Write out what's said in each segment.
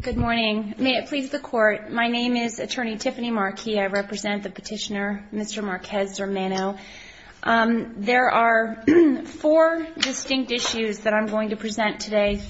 Good morning. May it please the Court, my name is Attorney Tiffany Marquez. I represent the petitioner, Mr. Marquez-Zermeno. There are four distinct issues that I'm going to address today.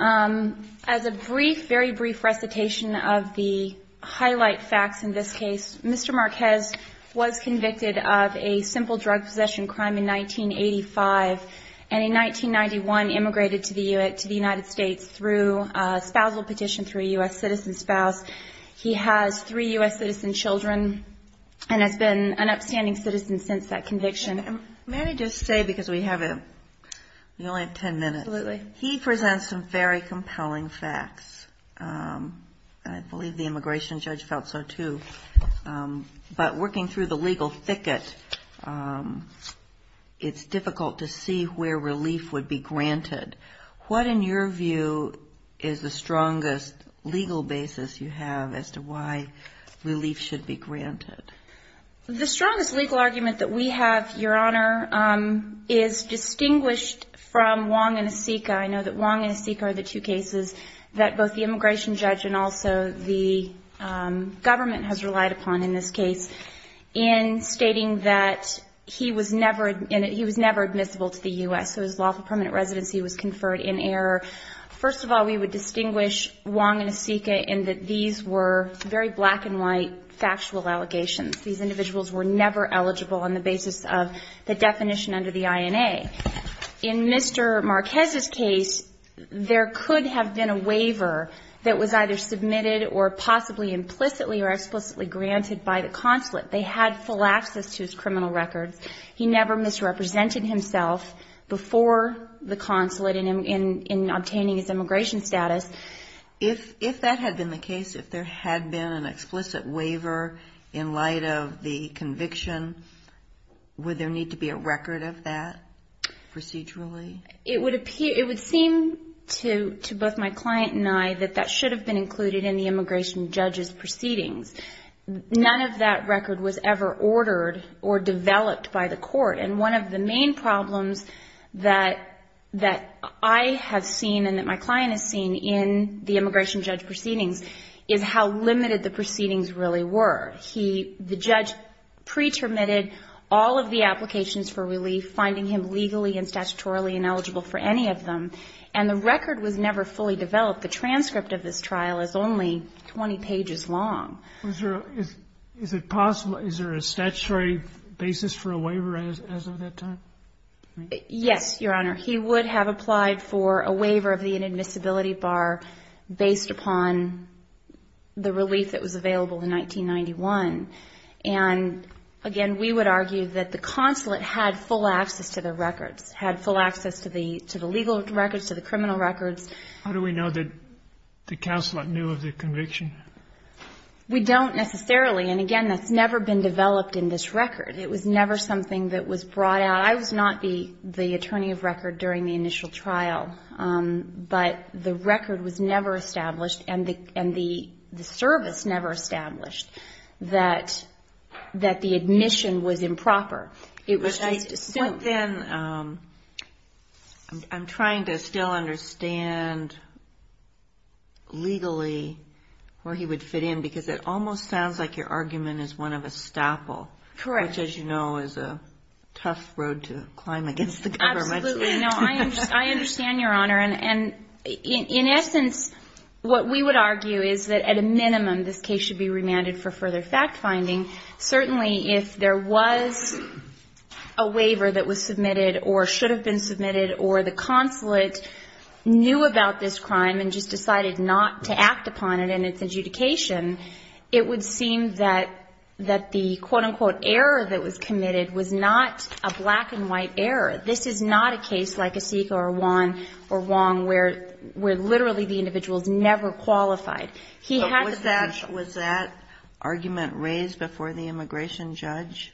As a brief, very brief recitation of the highlight facts in this case, Mr. Marquez was convicted of a simple drug possession crime in 1985, and in 1991 immigrated to the United States through a spousal petition through a U.S. citizen spouse. He has three U.S. citizen children and has been an upstanding citizen since that conviction. And may I just say, because we only have ten minutes, he presents some very compelling facts. I believe the immigration judge felt so too. But working through the legal thicket, it's difficult to see where relief would be granted. What, in your view, is the strongest legal basis you have as to why relief should be granted? The strongest legal argument that we have, Your Honor, is distinguished from Wong and Asika. I know that Wong and Asika are the two cases that both the immigration judge and also the government has relied upon in this case in stating that he was never admissible to the U.S., so his lawful permanent residency was conferred in error. First of all, we would distinguish Wong and Asika in that these were very black and white factual allegations. These individuals were never eligible on the basis of the definition under the INA. In Mr. Marquez's case, there could have been a waiver that was either submitted or possibly implicitly or explicitly granted by the consulate. They had full access to his criminal records. He never misrepresented himself before the consulate in obtaining his immigration status. If that had been the case, if there had been an explicit waiver in light of the conviction, would there need to be a record of that procedurally? It would seem to both my client and I that that should have been included in the immigration judge's proceedings. None of that record was ever ordered or developed by the court. And one of the main problems that I have seen and that my client has seen in the immigration judge proceedings is how limited the proceedings really were. He, the judge, pre-terminated all of the applications for relief, finding him legally and statutorily ineligible for any of them, and the record was never fully developed. The transcript of this trial is only 20 pages long. Is it possible, is there a statutory basis for a waiver as of that time? Yes, Your Honor. He would have applied for a waiver of the inadmissibility bar based upon the relief that was available in 1991. And again, we would argue that the consulate had full access to the records, had full access to the legal records, to the criminal records. How do we know that the consulate knew of the conviction? We don't necessarily. And again, that's never been developed in this record. It was never something that was brought out. I was not the attorney of record during the initial trial, but the record was never established and the service never established that the admission was improper. I'm trying to still understand legally where he would fit in because it almost sounds like your argument is one of a rough road to climb against the government. Absolutely. No, I understand, Your Honor. And in essence, what we would argue is that at a minimum, this case should be remanded for further fact-finding. Certainly, if there was a waiver that was submitted or should have been submitted or the consulate knew about this crime and just decided not to act upon it in its adjudication, it would seem that the quote-unquote error that was committed was not a black-and-white error. This is not a case like Asika or Wong where literally the individual is never qualified. Was that argument raised before the immigration judge?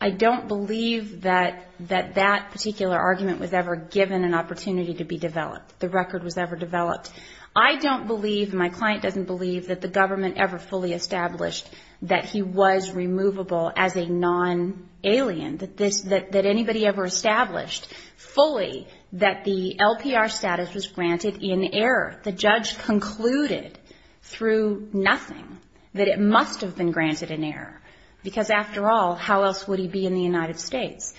I don't believe that that particular argument was ever given an opportunity to be developed, the record was ever developed. I don't believe, and my client doesn't believe, that the government ever fully established that he was removable as a non-alien, that anybody ever established fully that the LPR status was granted in error. The judge concluded through nothing that it must have been granted in error, because after all, how else would he be in the United States?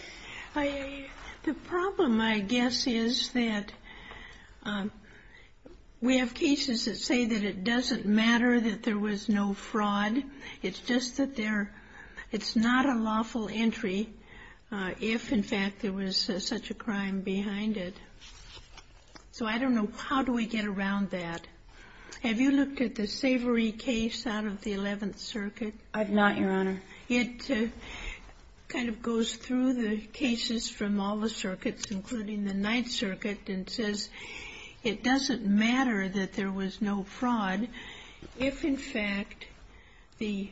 The problem, I guess, is that we have cases that say that it doesn't matter that there was no fraud. It's just that there — it's not a lawful entry if, in fact, there was such a crime behind it. So I don't know how do we get around that. Have you looked at the Savory case out of the Eleventh Circuit? I have not, Your Honor. It kind of goes through the cases from all the circuits, including the Ninth Circuit, and says it doesn't matter that there was no fraud. If, in fact, the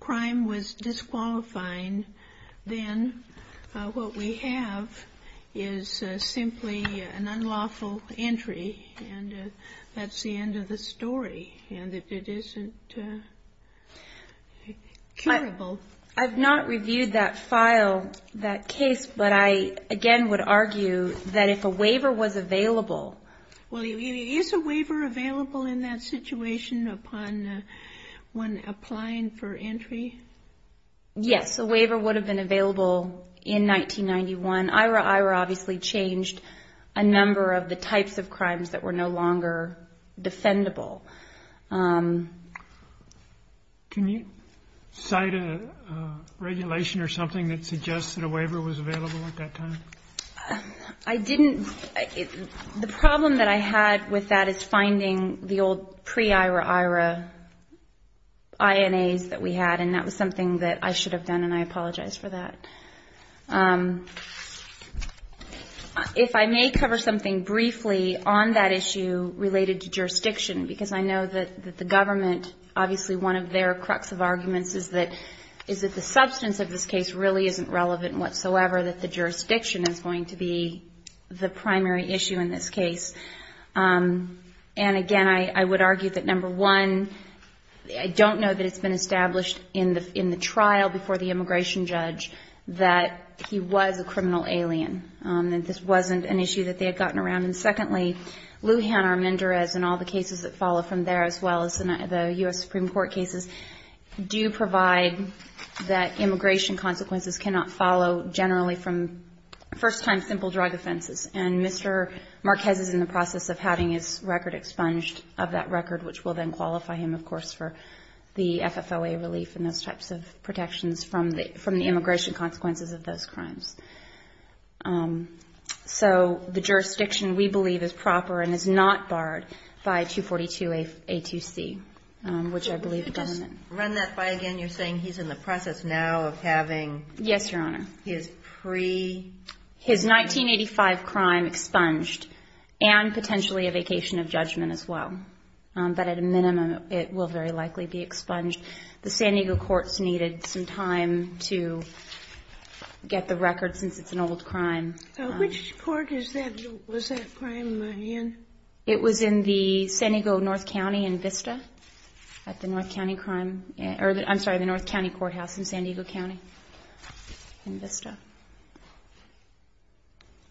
crime was disqualifying, then what we have is simply an unlawful entry, and that's the end of the I've not reviewed that file, that case, but I, again, would argue that if a waiver was available — Well, is a waiver available in that situation upon one applying for entry? Yes, a waiver would have been available in 1991. IRA obviously changed a number of the types of crimes that were no longer defendable. Can you cite a regulation or something that suggests that a waiver was available at that time? I didn't — the problem that I had with that is finding the old pre-IRA IRA INAs that we had, and that was something that I should have done, and I apologize for that. If I may cover something briefly on that issue related to jurisdiction, because I know that the government, obviously one of their crux of arguments is that the substance of this case really isn't relevant whatsoever, that the jurisdiction is going to be the primary issue in this case. And, again, I would argue that, number one, I don't know that it's been established in the trial before the case that he was a criminal alien, that this wasn't an issue that they had gotten around. And, secondly, Lujan Armendariz and all the cases that follow from there, as well as the U.S. Supreme Court cases, do provide that immigration consequences cannot follow generally from first-time simple drug offenses, and Mr. Marquez is in the process of having his record expunged of that record, which will then qualify him, of course, for the FFOA relief and those types of protections from the crimes. So the jurisdiction, we believe, is proper and is not barred by 242A2C, which I believe the government ---- Kagan. Run that by again. You're saying he's in the process now of having his pre----- Harrington. His 1985 crime expunged and potentially a vacation of judgment as well. But at a minimum, it will very likely be expunged. The San Diego courts needed some time to get the record since it's an old crime. Sotomayor. Which court was that crime in? Harrington. It was in the San Diego North County in Vista, at the North County Crime ---- I'm sorry, the North County Courthouse in San Diego County in Vista.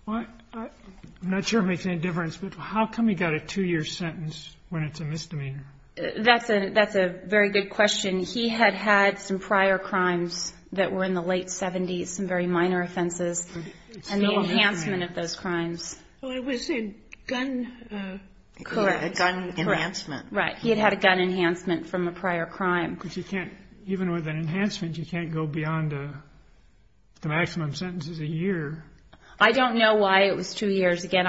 Sotomayor. I'm not sure it makes any difference, but how come he got a two-year sentence when it's a misdemeanor? Harrington. That's a very good question. He had had some prior crimes that were in the late 70s, some very minor offenses. And the enhancement of those crimes. Sotomayor. Well, it was a gun ---- the maximum sentence is a year. Harrington. I don't know why it was two years. Again,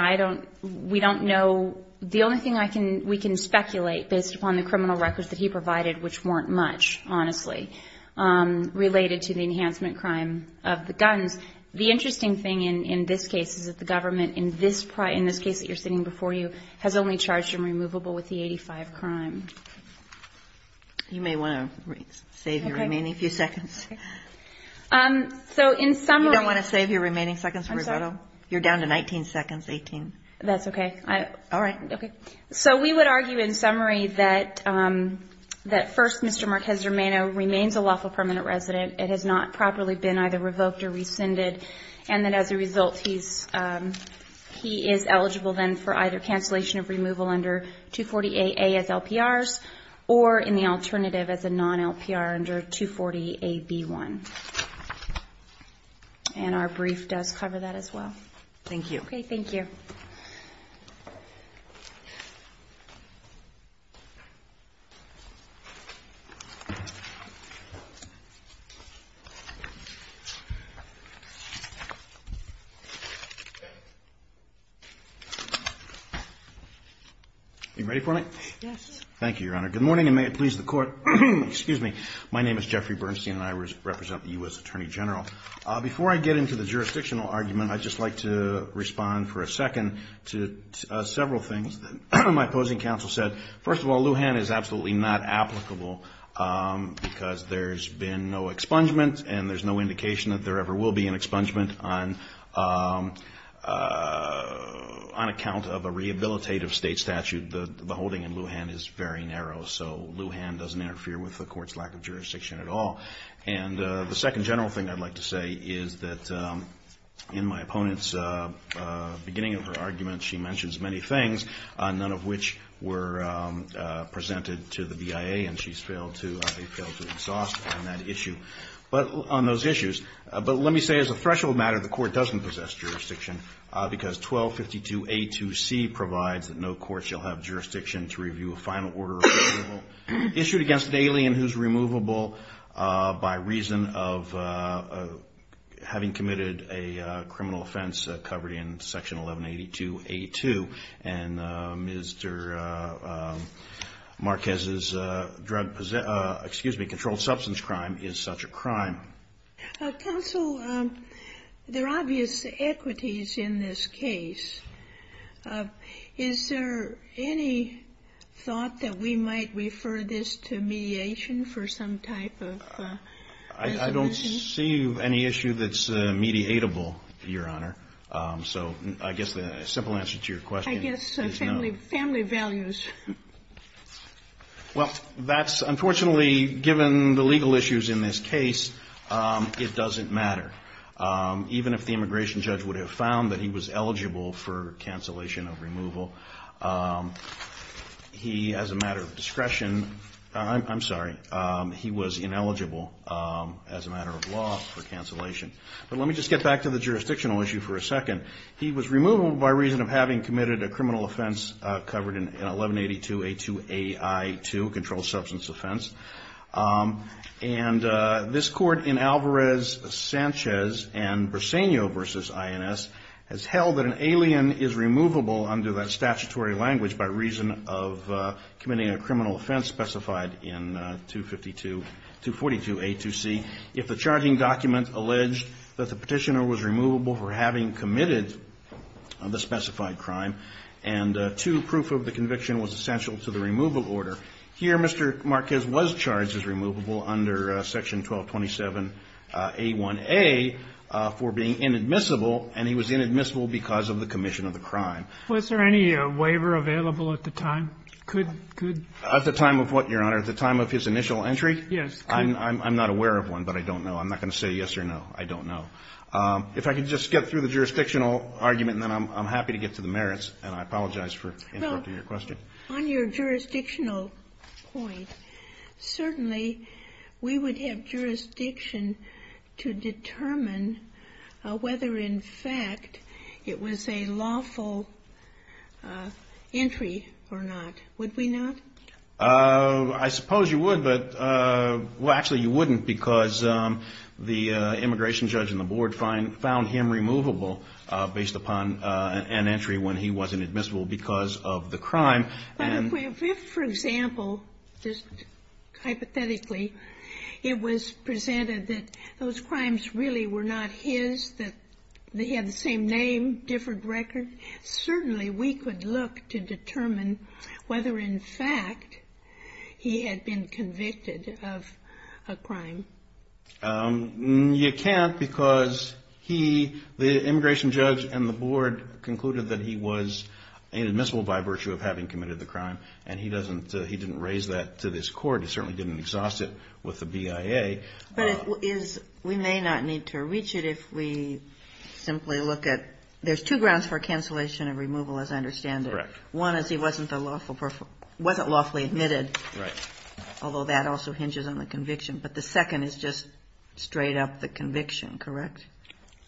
we don't know. The only thing we can speculate, based upon the criminal records that he provided, which weren't much, honestly, related to the enhancement crime of the guns. The interesting thing in this case is that the government, in this case that you're sitting before you, has only charged him removable with the gun. Harrington. So, in summary ---- Sotomayor. You don't want to save your remaining seconds for rebuttal? You're down to 19 seconds, 18. Harrington. That's okay. So, we would argue, in summary, that first, Mr. Marquez-Germano remains a lawful permanent resident. It has not properly been either revoked or rescinded. And that, as a result, he is eligible, then, for either cancellation of removal under 240AA as LPRs, or, in the alternative, as a non-LPR under 240AB1. And our brief does cover that as well. Sotomayor. Thank you. You ready for it? Yes. Thank you, Your Honor. Good morning, and may it please the Court. Excuse me. My name is Jeffrey Bernstein, and I represent the U.S. Attorney General. Before I get into the jurisdictional argument, I'd just like to respond for a second to several things that my opposing counsel said. First of all, Lujan is absolutely not applicable, because there's been no expungement, and there's no indication that there ever will be an expungement on account of a rehabilitative state statute. The holding in Lujan is very narrow, so Lujan doesn't interfere with the Court's lack of jurisdiction at all. And the second general thing I'd like to say is that, in my opponent's beginning of her argument, she mentions many things, none of which were presented to the BIA, and she's failed to exhaust on that issue. But on those issues, but let me say, as a threshold matter, the Court doesn't possess jurisdiction, because 1252A2C provides that no court shall have jurisdiction to review a final order issued against an alien who's removable by reason of having committed a criminal offense covered in Section 1182A2. And Mr. Marquez's drug possession -- excuse me, controlled substance crime is such a crime. Counsel, there are obvious equities in this case. Is there any thought that we might refer this to mediation for some type of resolution? I don't see any issue that's mediatable, Your Honor. So I guess the simple answer to your question is no. I guess family values. Well, that's, unfortunately, given the legal issues in this case, it doesn't matter. Even if the immigration judge would have found that he was eligible for cancellation of removal, he, as a matter of discretion, I'm sorry, he was ineligible as a matter of law for cancellation. But let me just get back to the criminal offense covered in 1182A2AI2, controlled substance offense. And this Court in Alvarez-Sanchez and Briseño v. INS has held that an alien is removable under that statutory language by reason of committing a criminal offense specified in 252-242A2C. If the charging document alleged that the criminal offense is removable under that statute, it is not. And, two, proof of the conviction was essential to the removal order. Here, Mr. Marquez was charged as removable under Section 1227A1A for being inadmissible, and he was inadmissible because of the commission of the crime. Was there any waiver available at the time? Could the time of what, Your Honor, the time of his initial entry? Yes. I'm not aware of one, but I don't know. I'm not going to say yes or no. I don't know. If I could just get through the jurisdictional argument, then I'm happy to get to the merits, and I'm happy to get to the merits. I apologize for interrupting your question. Well, on your jurisdictional point, certainly we would have jurisdiction to determine whether, in fact, it was a lawful entry or not. Would we not? I suppose you would, but, well, actually, you wouldn't because the immigration judge and the board found him removable based upon an entry when he wasn't admissible. Because of the crime. But if, for example, just hypothetically, it was presented that those crimes really were not his, that they had the same name, different record, certainly we could look to determine whether, in fact, he had been convicted of a crime. You can't because he, the immigration judge and the board concluded that he was inadmissible by virtue of having committed the crime, and he doesn't, he didn't raise that to this court. He certainly didn't exhaust it with the BIA. But it is, we may not need to reach it if we simply look at, there's two grounds for cancellation and removal, as I understand it. Correct. One is he wasn't a lawful, wasn't lawfully admitted. Right. Although that also hinges on the conviction. But the second is that he was not admitted. Correct. And the third one is just straight up the conviction. Correct.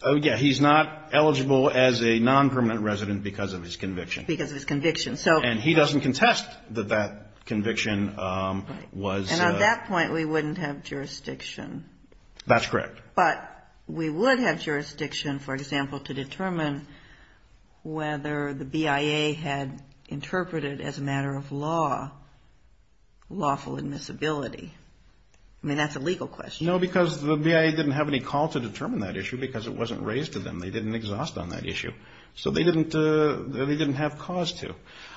Oh, yeah. He's not eligible as a non-permanent resident because of his conviction. Because of his conviction. And he doesn't contest that that conviction was. And at that point, we wouldn't have jurisdiction. That's correct. But we would have jurisdiction, for example, to determine whether the BIA had interpreted as a matter of law, lawful admissibility. I mean, that's a legal question. No, because the BIA didn't have any call to determine that issue because it wasn't raised to them. They didn't exhaust on that issue. So they didn't have cause to.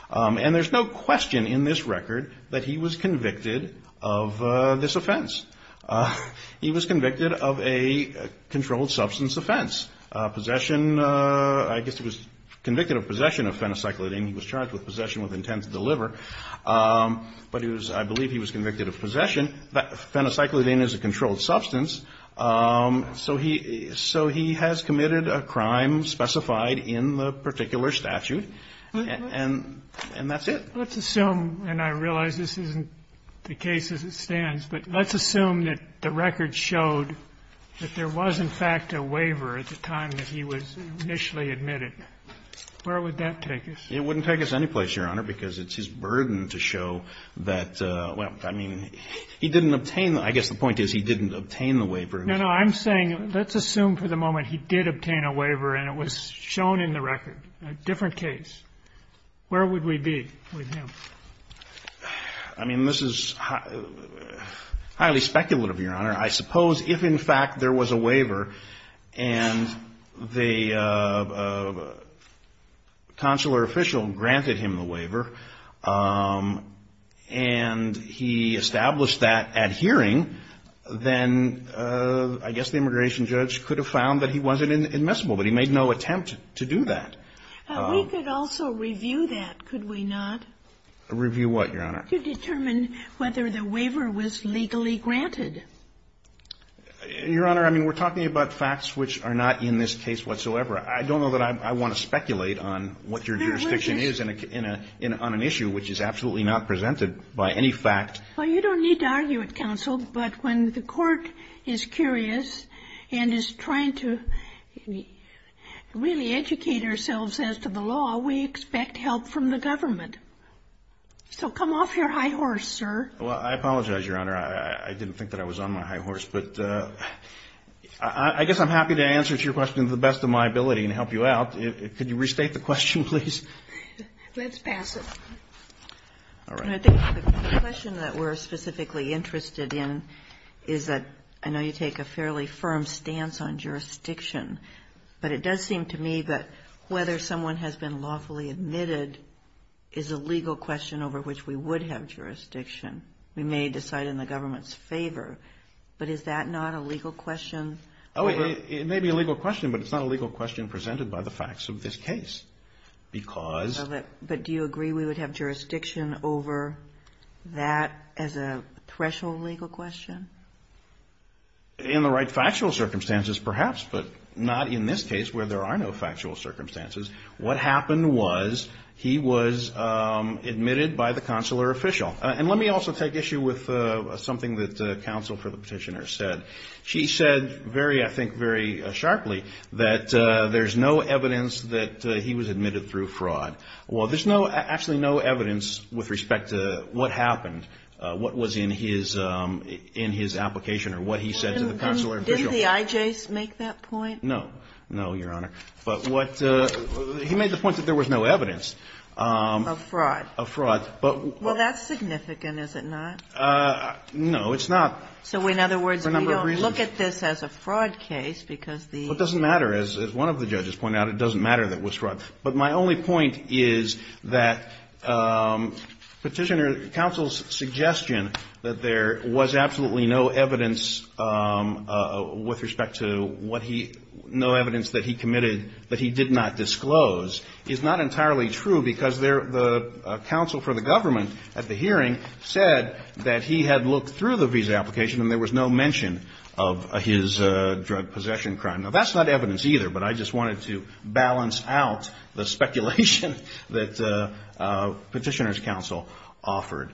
And there's no question in this record that he was convicted of this offense. He was convicted of a controlled substance offense. Possession, I guess he was convicted of possession of phenocyclidine. He was charged with possession with intent to deliver. But I believe he was convicted of possession. Phenocyclidine is a controlled substance. So he has committed a crime specified in the particular statute. And that's it. Let's assume, and I realize this isn't the case as it stands, but let's assume that the record showed that there was, in fact, a waiver at the time that he was initially admitted. Where would that take us? It wouldn't take us any place, Your Honor, because it's his burden to show that, well, I mean, he didn't obtain the – I guess the point is he didn't obtain the waiver. No, no. I'm saying let's assume for the moment he did obtain a waiver and it was shown in the record. A different case. Where would we be with him? I mean, this is highly speculative, Your Honor. I suppose if, in fact, there was a waiver and the consular official granted him the waiver and he established that at hearing, then I guess the immigration judge could have found that he wasn't admissible. But he made no attempt to do that. We could also review that, could we not? Review what, Your Honor? To determine whether the waiver was legally granted. Your Honor, I mean, we're talking about facts which are not in this case whatsoever. I don't know that I want to speculate on what your jurisdiction is on an issue which is absolutely not presented by any fact. Well, you don't need to argue it, counsel. But when the court is curious and is trying to really educate ourselves as to the law, we expect help from the government. So come off your high horse, sir. Well, I apologize, Your Honor. I didn't think that I was on my high horse. But I guess I'm happy to answer to your question to the best of my ability and help you out. Could you restate the question, please? Let's pass it. All right. Your Honor, I think the question that we're specifically interested in is that I know you take a fairly firm stance on jurisdiction. But it does seem to me that whether someone has been lawfully admitted is a legal question over which we would have jurisdiction. We may decide in the government's favor. But is that not a legal question? Oh, it may be a legal question, but it's not a legal question presented by the facts of this case because of it. Do you consider that as a threshold legal question? In the right factual circumstances, perhaps, but not in this case where there are no factual circumstances. What happened was he was admitted by the consular official. And let me also take issue with something that counsel for the petitioner said. She said very, I think, very sharply that there's no evidence that he was admitted through fraud. Well, there's no, actually no evidence with respect to what happened, what was in his application or what he said to the consular official. Did the IJs make that point? No. No, Your Honor. But what he made the point that there was no evidence. Of fraud. Of fraud. Well, that's significant, is it not? No, it's not. So in other words, we don't look at this as a fraud case because the ---- Well, it doesn't matter. As one of the judges pointed out, it doesn't matter that it was fraud. But my only point is that Petitioner, counsel's suggestion that there was absolutely no evidence with respect to what he, no evidence that he committed that he did not disclose is not entirely true because there, the counsel for the government at the hearing said that he had looked through the visa application and there was no mention of his drug possession crime. Now, that's not evidence either. But I just wanted to balance out the speculation that Petitioner's counsel offered.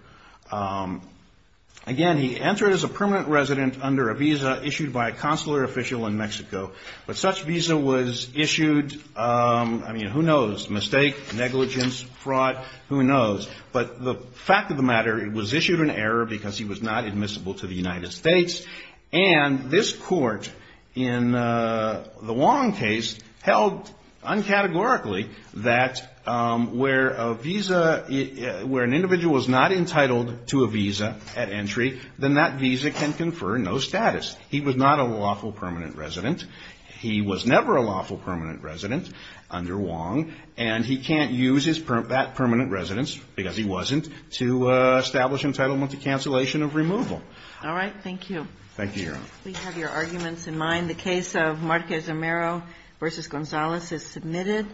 Again, he entered as a permanent resident under a visa issued by a consular official in Mexico. But such visa was issued, I mean, who knows, mistake, negligence, fraud, who knows. But the fact of the matter, it was issued in error because he was not admissible to the United States. And this court in the Wong case held uncategorically that where a visa, where an individual was not entitled to a visa at entry, then that visa can confer no status. He was not a lawful permanent resident. He was never a lawful permanent resident under Wong. And he can't use his, that permanent residence, because he wasn't, to establish entitlement to cancellation of removal. All right. Thank you. Thank you, Your Honor. We have your arguments in mind. The case of Marquez-Amero v. Gonzalez is submitted.